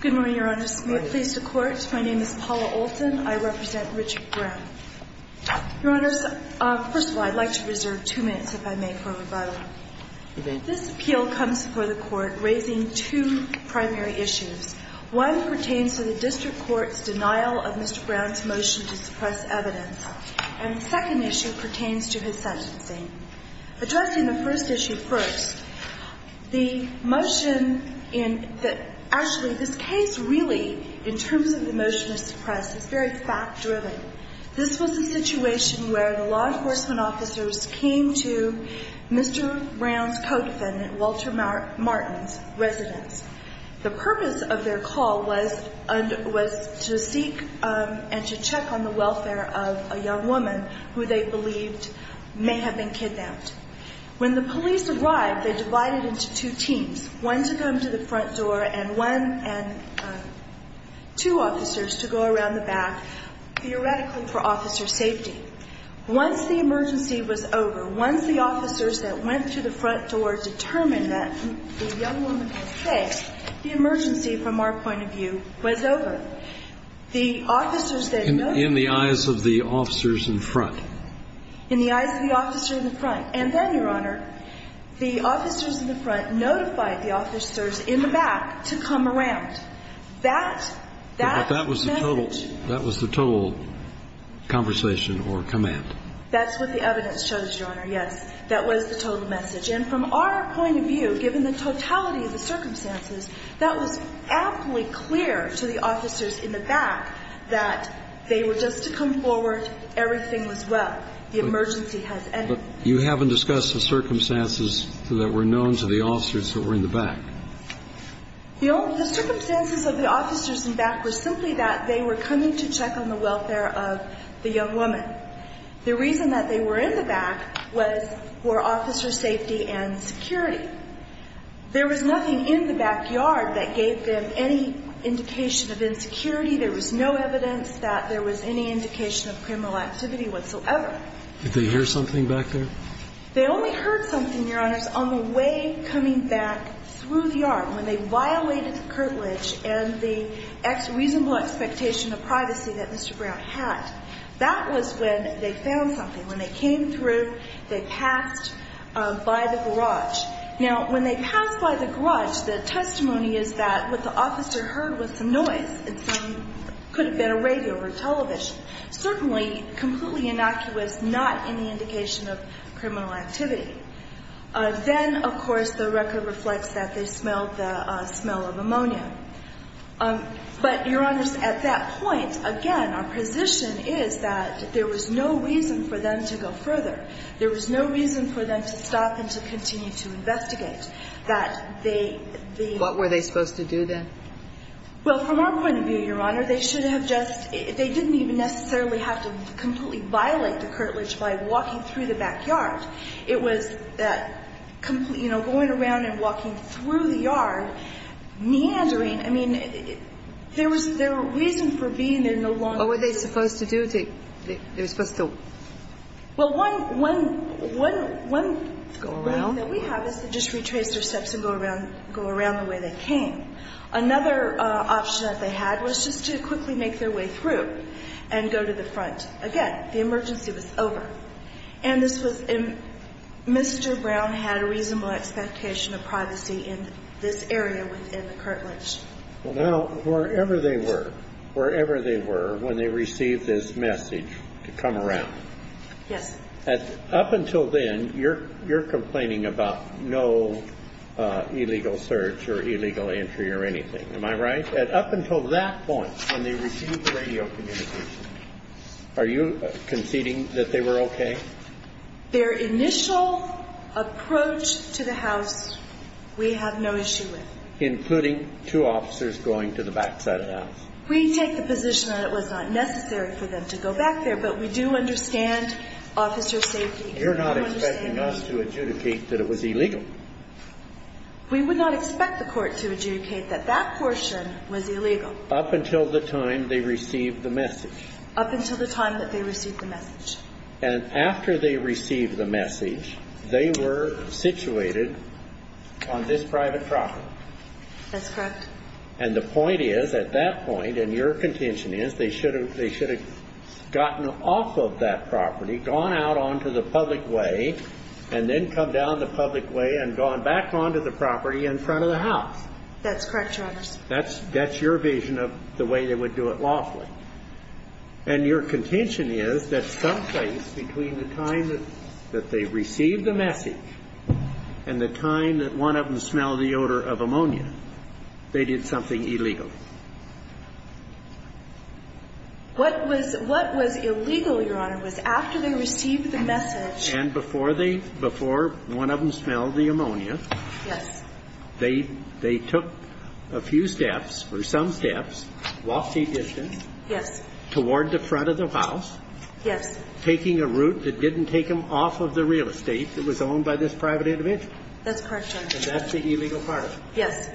Good morning, Your Honors. We are pleased to court. My name is Paula Olton. I represent Richard Brown. Your Honors, first of all, I'd like to reserve two minutes, if I may, for rebuttal. This appeal comes before the Court raising two primary issues. One pertains to the District Court's denial of Mr. Brown's motion to suppress evidence, and the second issue pertains to his sentencing. Addressing the first issue first, the motion in the – actually, this case really, in terms of the motion to suppress, is very fact-driven. This was a situation where the law enforcement officers came to Mr. Brown's co-defendant, Walter Martin's, residence. The purpose of their call was to seek and to check on the welfare of a young woman who they believed may have been kidnapped. When the police arrived, they divided into two teams, one to come to the front door and one – two officers to go around the back, theoretically for officer safety. Once the emergency was over, once the officers that went to the front door determined that the young woman was safe, the emergency, from our point of view, was over. The officers that – In the eyes of the officers in front. In the eyes of the officer in the front. And then, Your Honor, the officers in the front notified the officers in the back to come around. But that was the total – that was the total conversation or command. That's what the evidence shows, Your Honor, yes. That was the total message. And from our point of view, given the totality of the circumstances, that was aptly clear to the officers in the back that they were just to come forward, everything was well. The emergency has ended. But you haven't discussed the circumstances that were known to the officers that were in the back. The circumstances of the officers in the back were simply that they were coming to check on the welfare of the young woman. The reason that they were in the back was – were officer safety and security. There was nothing in the backyard that gave them any indication of insecurity. There was no evidence that there was any indication of criminal activity whatsoever. Did they hear something back there? They only heard something, Your Honors, on the way coming back through the yard when they violated the curtilage and the reasonable expectation of privacy that Mr. Brown had. That was when they found something. When they came through, they passed by the garage. Now, when they passed by the garage, the testimony is that what the officer heard was some noise. It could have been a radio or television. Certainly, completely innocuous, not any indication of criminal activity. Then, of course, the record reflects that they smelled the smell of ammonia. But, Your Honors, at that point, again, our position is that there was no reason for them to go further. There was no reason for them to stop and to continue to investigate. That they – What were they supposed to do then? Well, from our point of view, Your Honor, they should have just – they didn't even necessarily have to completely violate the curtilage by walking through the backyard. It was that complete – you know, going around and walking through the yard, meandering. I mean, there was – there were reasons for being there no longer. What were they supposed to do? They were supposed to – Well, one – one – one – Go around. One thing that we have is to just retrace their steps and go around – go around the way they came. Another option that they had was just to quickly make their way through and go to the front. Again, the emergency was over. And this was – Mr. Brown had a reasonable expectation of privacy in this area within the curtilage. Well, now, wherever they were – wherever they were when they received this message to come around – Yes. Up until then, you're complaining about no illegal search or illegal entry or anything. Am I right? Up until that point, when they received the radio communication, are you conceding that they were okay? Their initial approach to the house, we have no issue with. Including two officers going to the backside of the house. We take the position that it was not necessary for them to go back there, but we do understand officer safety. You're not expecting us to adjudicate that it was illegal. We would not expect the court to adjudicate that that portion was illegal. Up until the time they received the message. Up until the time that they received the message. And after they received the message, they were situated on this private property. That's correct. And the point is, at that point, and your contention is, they should have gotten off of that property, gone out onto the public way, and then come down the public way and gone back onto the property in front of the house. That's correct, Your Honors. That's your vision of the way they would do it lawfully. And your contention is that someplace between the time that they received the message and the time that one of them smelled the odor of ammonia, they did something illegal. What was illegal, Your Honor, was after they received the message. And before one of them smelled the ammonia. Yes. They took a few steps, or some steps, walking distance. Yes. Toward the front of the house. Yes. Taking a route that didn't take them off of the real estate that was owned by this private individual. That's correct, Your Honor. And that's the illegal part of it. Yes.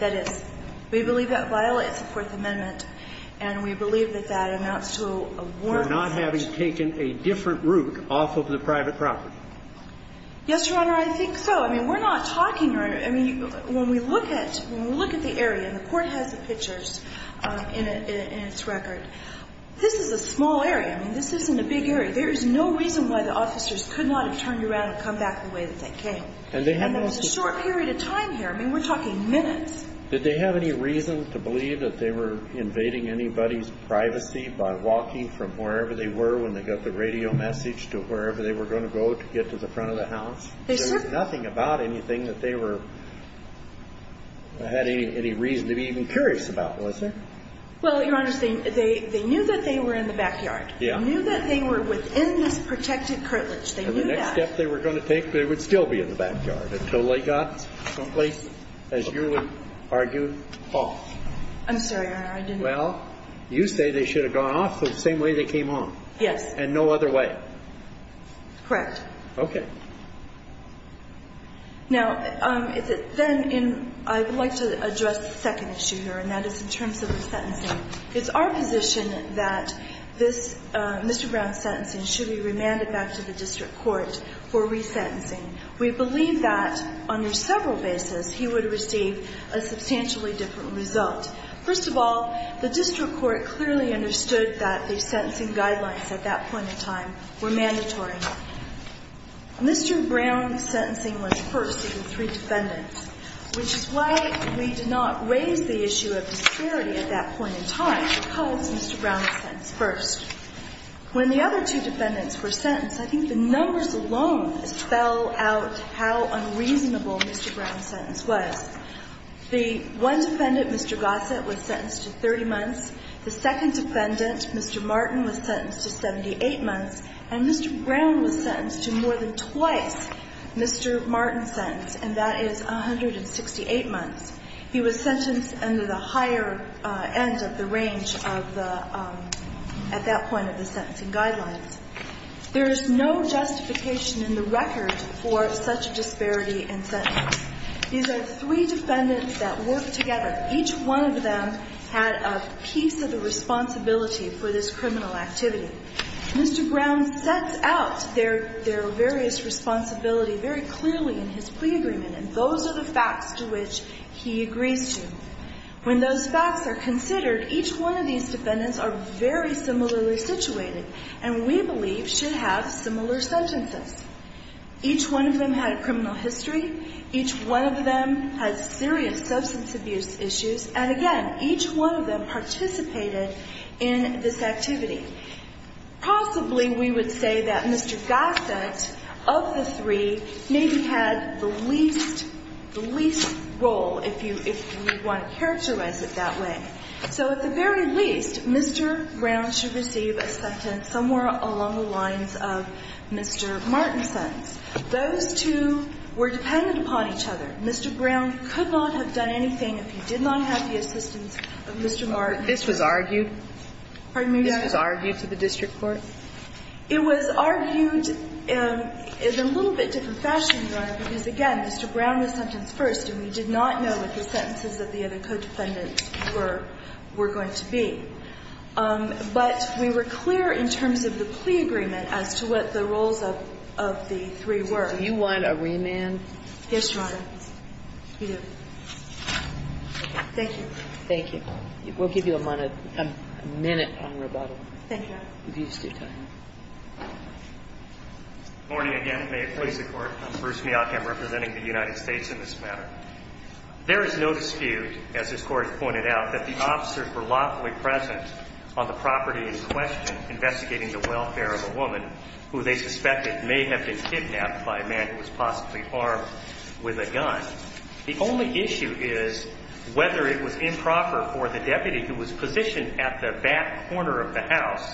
That is. We believe that violates the Fourth Amendment. And we believe that that amounts to a warrant. For not having taken a different route off of the private property. Yes, Your Honor, I think so. I mean, we're not talking, Your Honor. I mean, when we look at the area, and the Court has the pictures in its record, this is a small area. I mean, this isn't a big area. There is no reason why the officers could not have turned around and come back the way that they came. And there was a short period of time here. I mean, we're talking minutes. Did they have any reason to believe that they were invading anybody's privacy by walking from wherever they were when they got the radio message to wherever they were going to go to get to the front of the house? There was nothing about anything that they had any reason to be even curious about, was there? Well, Your Honor, they knew that they were in the backyard. They knew that they were within this protected curtilage. They knew that. And the next step they were going to take, they would still be in the backyard until they got someplace, as you would argue, off. I'm sorry, Your Honor. I didn't mean to. Well, you say they should have gone off the same way they came on. Yes. And no other way. Correct. Okay. Now, then I would like to address the second issue here, and that is in terms of the sentencing. It's our position that this Mr. Brown's sentencing should be remanded back to the district court for resentencing. We believe that under several bases he would receive a substantially different result. First of all, the district court clearly understood that the sentencing guidelines at that point in time were mandatory. Mr. Brown's sentencing was first in three defendants, which is why we did not raise the issue of disparity at that point in time because Mr. Brown was sentenced first. When the other two defendants were sentenced, I think the numbers alone spell out how unreasonable Mr. Brown's sentence was. The one defendant, Mr. Gossett, was sentenced to 30 months. The second defendant, Mr. Martin, was sentenced to 78 months. And Mr. Brown was sentenced to more than twice Mr. Martin's sentence, and that is 168 months. He was sentenced under the higher end of the range of the at that point of the sentencing guidelines. There is no justification in the record for such a disparity in sentences. These are three defendants that worked together. Each one of them had a piece of the responsibility for this criminal activity. Mr. Brown sets out their various responsibilities very clearly in his plea agreement, and those are the facts to which he agrees to. When those facts are considered, each one of these defendants are very similarly situated and we believe should have similar sentences. Each one of them had a criminal history. Each one of them had serious substance abuse issues. And again, each one of them participated in this activity. Possibly we would say that Mr. Gossett of the three maybe had the least role if you want to characterize it that way. So at the very least, Mr. Brown should receive a sentence somewhere along the lines of Mr. Martin's sentence. Those two were dependent upon each other. Mr. Brown could not have done anything if he did not have the assistance of Mr. Martin. This was argued? Pardon me, Your Honor? This was argued to the district court? It was argued in a little bit different fashion, Your Honor, because again, Mr. Brown was sentenced first and we did not know what the sentences of the other co-defendants were going to be. But we were clear in terms of the plea agreement as to what the roles of the three were. Do you want a remand? Yes, Your Honor. We do. Thank you. Thank you. We'll give you a minute on rebuttal. Thank you, Your Honor. If you just do time. Good morning again. May it please the Court. I'm Bruce Meok. I'm representing the United States in this matter. There is no dispute, as this Court has pointed out, that the officers were lawfully present on the property in question investigating the welfare of a woman who they suspected may have been kidnapped by a man who was possibly armed with a gun. The only issue is whether it was improper for the deputy who was positioned at the back corner of the house,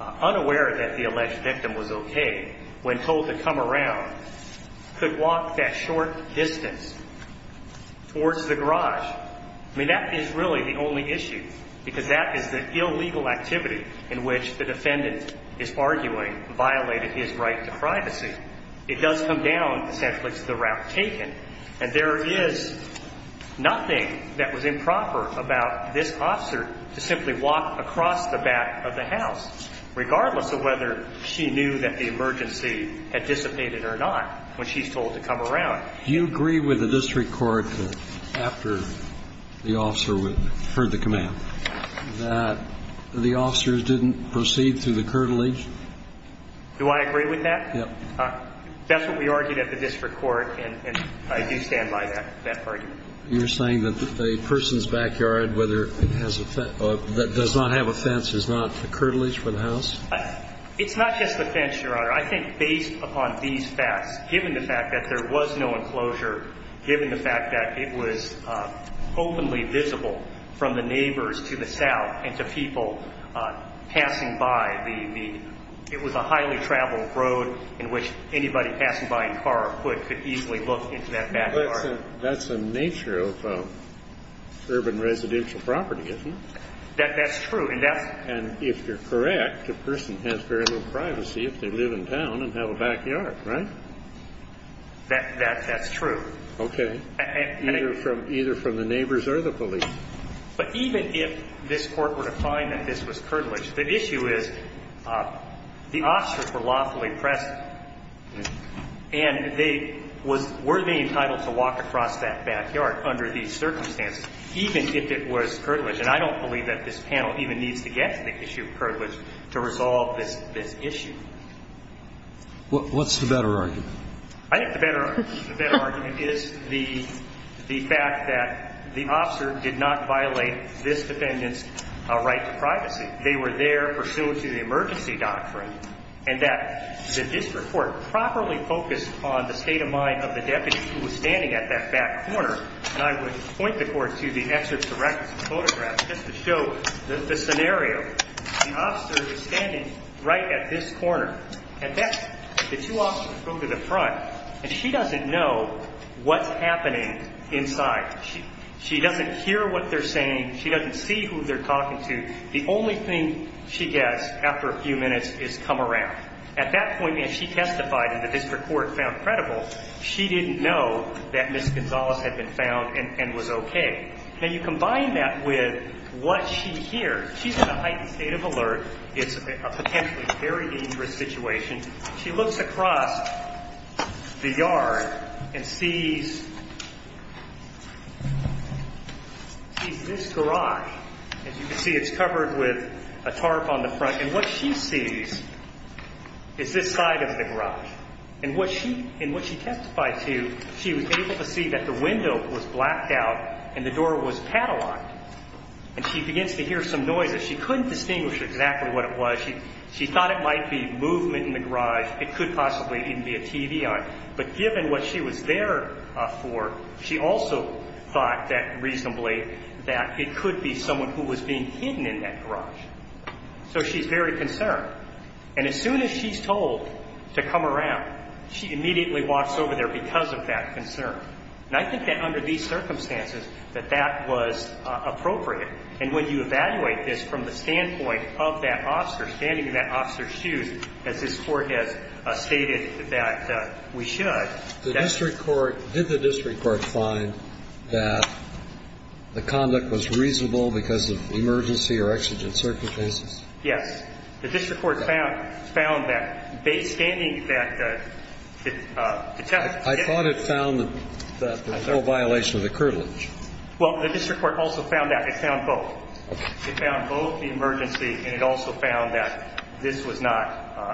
unaware that the alleged victim was okay, when told to come around, could walk that short distance towards the garage. I mean, that is really the only issue because that is the illegal activity in which the defendant is arguing violated his right to privacy. It does come down, essentially, to the route taken, and there is nothing that was improper about this officer to simply walk across the back of the house, regardless of whether she knew that the emergency had dissipated or not, when she's told to come around. Do you agree with the district court that, after the officer heard the command, that the officers didn't proceed through the curtilage? Do I agree with that? Yes. That's what we argued at the district court, and I do stand by that argument. You're saying that the person's backyard, whether it has a fence or does not have a fence, is not the curtilage for the house? It's not just the fence, Your Honor. I think based upon these facts, given the fact that there was no enclosure, given the fact that it was openly visible from the neighbors to the south and to people passing by, it was a highly traveled road in which anybody passing by in car or foot could easily look into that backyard. That's the nature of urban residential property, isn't it? That's true. And if you're correct, the person has very little privacy if they live in town and have a backyard, right? Okay. Either from the neighbors or the police. But even if this Court were to find that this was curtilage, the issue is the officers were lawfully present, and they were worthy and entitled to walk across that backyard under these circumstances, even if it was curtilage. And I don't believe that this panel even needs to get to the issue of curtilage to resolve this issue. What's the better argument? I think the better argument is the fact that the officer did not violate this defendant's right to privacy. They were there pursuant to the emergency doctrine, and that the district court properly focused on the state of mind of the deputy who was standing at that back corner. And I would point the Court to the excerpts of records and photographs just to show the scenario. The officer is standing right at this corner. And the two officers go to the front, and she doesn't know what's happening inside. She doesn't hear what they're saying. She doesn't see who they're talking to. The only thing she gets after a few minutes is come around. At that point, if she testified and the district court found credible, she didn't know that Ms. Gonzalez had been found and was okay. Now, you combine that with what she hears, she's in a heightened state of alert. It's a potentially very dangerous situation. She looks across the yard and sees this garage. As you can see, it's covered with a tarp on the front. And what she sees is this side of the garage. And what she testified to, she was able to see that the window was blacked out and the door was padlocked. And she begins to hear some noises. She couldn't distinguish exactly what it was. She thought it might be movement in the garage. It could possibly even be a TV on it. But given what she was there for, she also thought that reasonably that it could be someone who was being hidden in that garage. So she's very concerned. And as soon as she's told to come around, she immediately walks over there because of that concern. And I think that under these circumstances, that that was appropriate. And when you evaluate this from the standpoint of that officer, standing in that officer's shoes, as this Court has stated that we should. The district court – did the district court find that the conduct was reasonable because of emergency or exigent circumstances? Yes. The district court found that based – standing that – I thought it found that there was no violation of the curtilage. Well, the district court also found that. It found both. It found both the emergency and it also found that this was not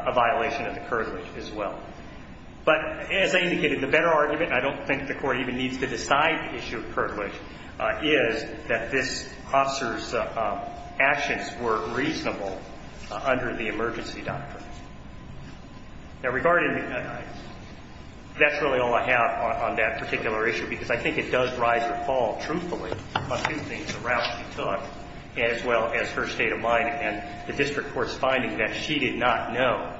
a violation of the curtilage as well. But as I indicated, the better argument, and I don't think the Court even needs to decide the issue of curtilage, is that this officer's actions were reasonable under the emergency doctrine. Now, regarding – that's really all I have on that particular issue because I think it does rise or fall, truthfully, on two things. The route she took as well as her state of mind and the district court's finding that she did not know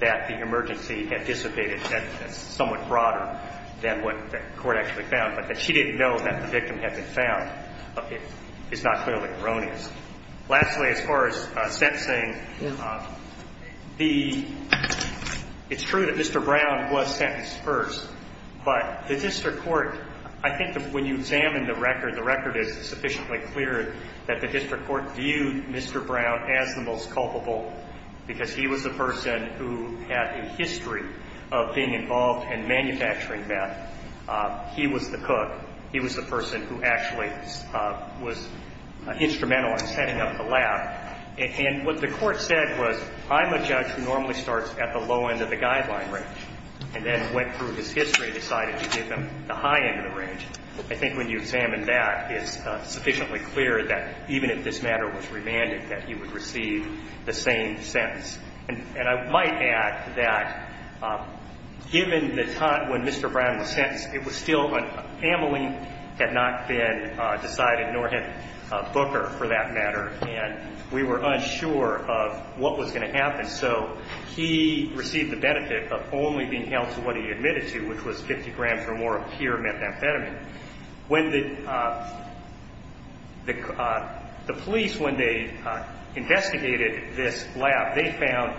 that the emergency had dissipated. That's somewhat broader than what the Court actually found. But that she didn't know that the victim had been found is not clearly erroneous. Lastly, as far as sentencing, it's true that Mr. Brown was sentenced first, but the district court – I think when you examine the record, the record is sufficiently clear that the district court viewed Mr. Brown as the most culpable because he was the person who had a history of being involved in manufacturing meth. He was the cook. He was the person who actually was instrumental in setting up the lab. And what the Court said was, I'm a judge who normally starts at the low end of the guideline range, and then went through his history, decided to give him the high end of the range. I think when you examine that, it's sufficiently clear that even if this matter was remanded, that he would receive the same sentence. And I might add that given the time when Mr. Brown was sentenced, it was still when Amelie had not been decided, nor had Booker for that matter, and we were unsure of what was going to happen. So he received the benefit of only being held to what he admitted to, which was 50 grams or more of pure methamphetamine. When the police, when they investigated this lab, they found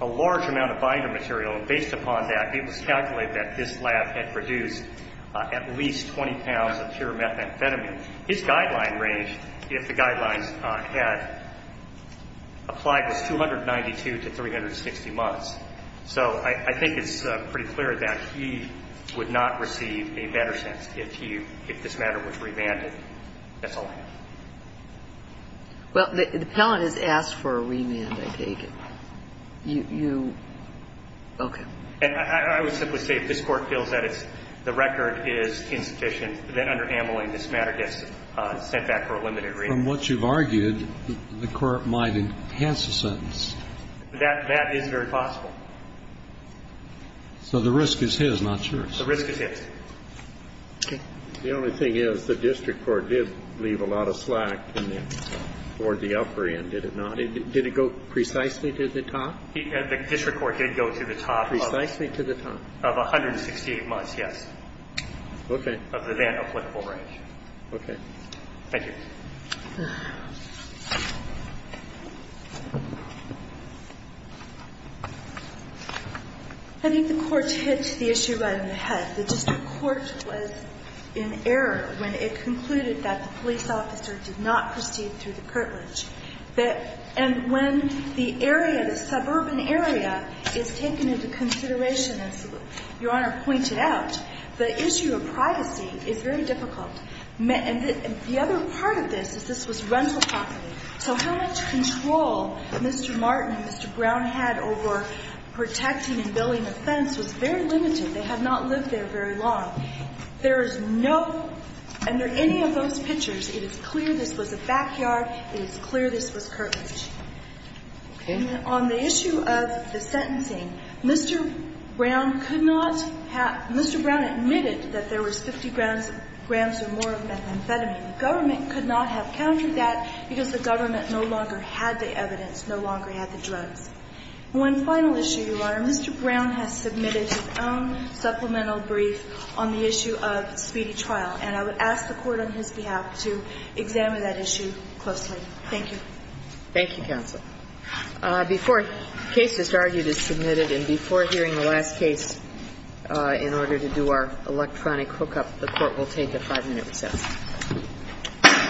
a large amount of binder material, and based upon that, it was calculated that this lab had produced at least 20 pounds of pure methamphetamine. His guideline range, if the guidelines had applied, was 292 to 360 months. So I think it's pretty clear that he would not receive a better sentence if he, if this matter was remanded. That's all I know. Well, the appellant has asked for a remand, I take it. You, okay. I would simply say if this Court feels that it's, the record is insufficient, then under Amelie, this matter gets sent back for a limited remand. From what you've argued, the Court might enhance the sentence. That is very possible. So the risk is his, not yours. The risk is his. Okay. The only thing is the district court did leave a lot of slack toward the upper end, did it not? Did it go precisely to the top? The district court did go to the top. Precisely to the top. Of 168 months, yes. Okay. Of the then applicable range. Okay. Thank you. I think the Court hit the issue right in the head. The district court was in error when it concluded that the police officer did not proceed through the curtilage. And when the area, the suburban area is taken into consideration, as Your Honor pointed out, the issue of privacy is very difficult. And the other part of this is this was rental property. So how much control Mr. Martin and Mr. Brown had over protecting and building a fence was very limited. They had not lived there very long. There is no, under any of those pictures, it is clear this was a backyard. It is clear this was curtilage. Okay. And on the issue of the sentencing, Mr. Brown could not have, Mr. Brown admitted that there was 50 grams or more of methamphetamine. The government could not have countered that because the government no longer had the evidence, no longer had the drugs. One final issue, Your Honor, Mr. Brown has submitted his own supplemental brief on the issue of speedy trial. And I would ask the Court on his behalf to examine that issue closely. Thank you. Thank you, counsel. Before case is argued and submitted and before hearing the last case in order to do our electronic hookup, the Court will take a five-minute recess.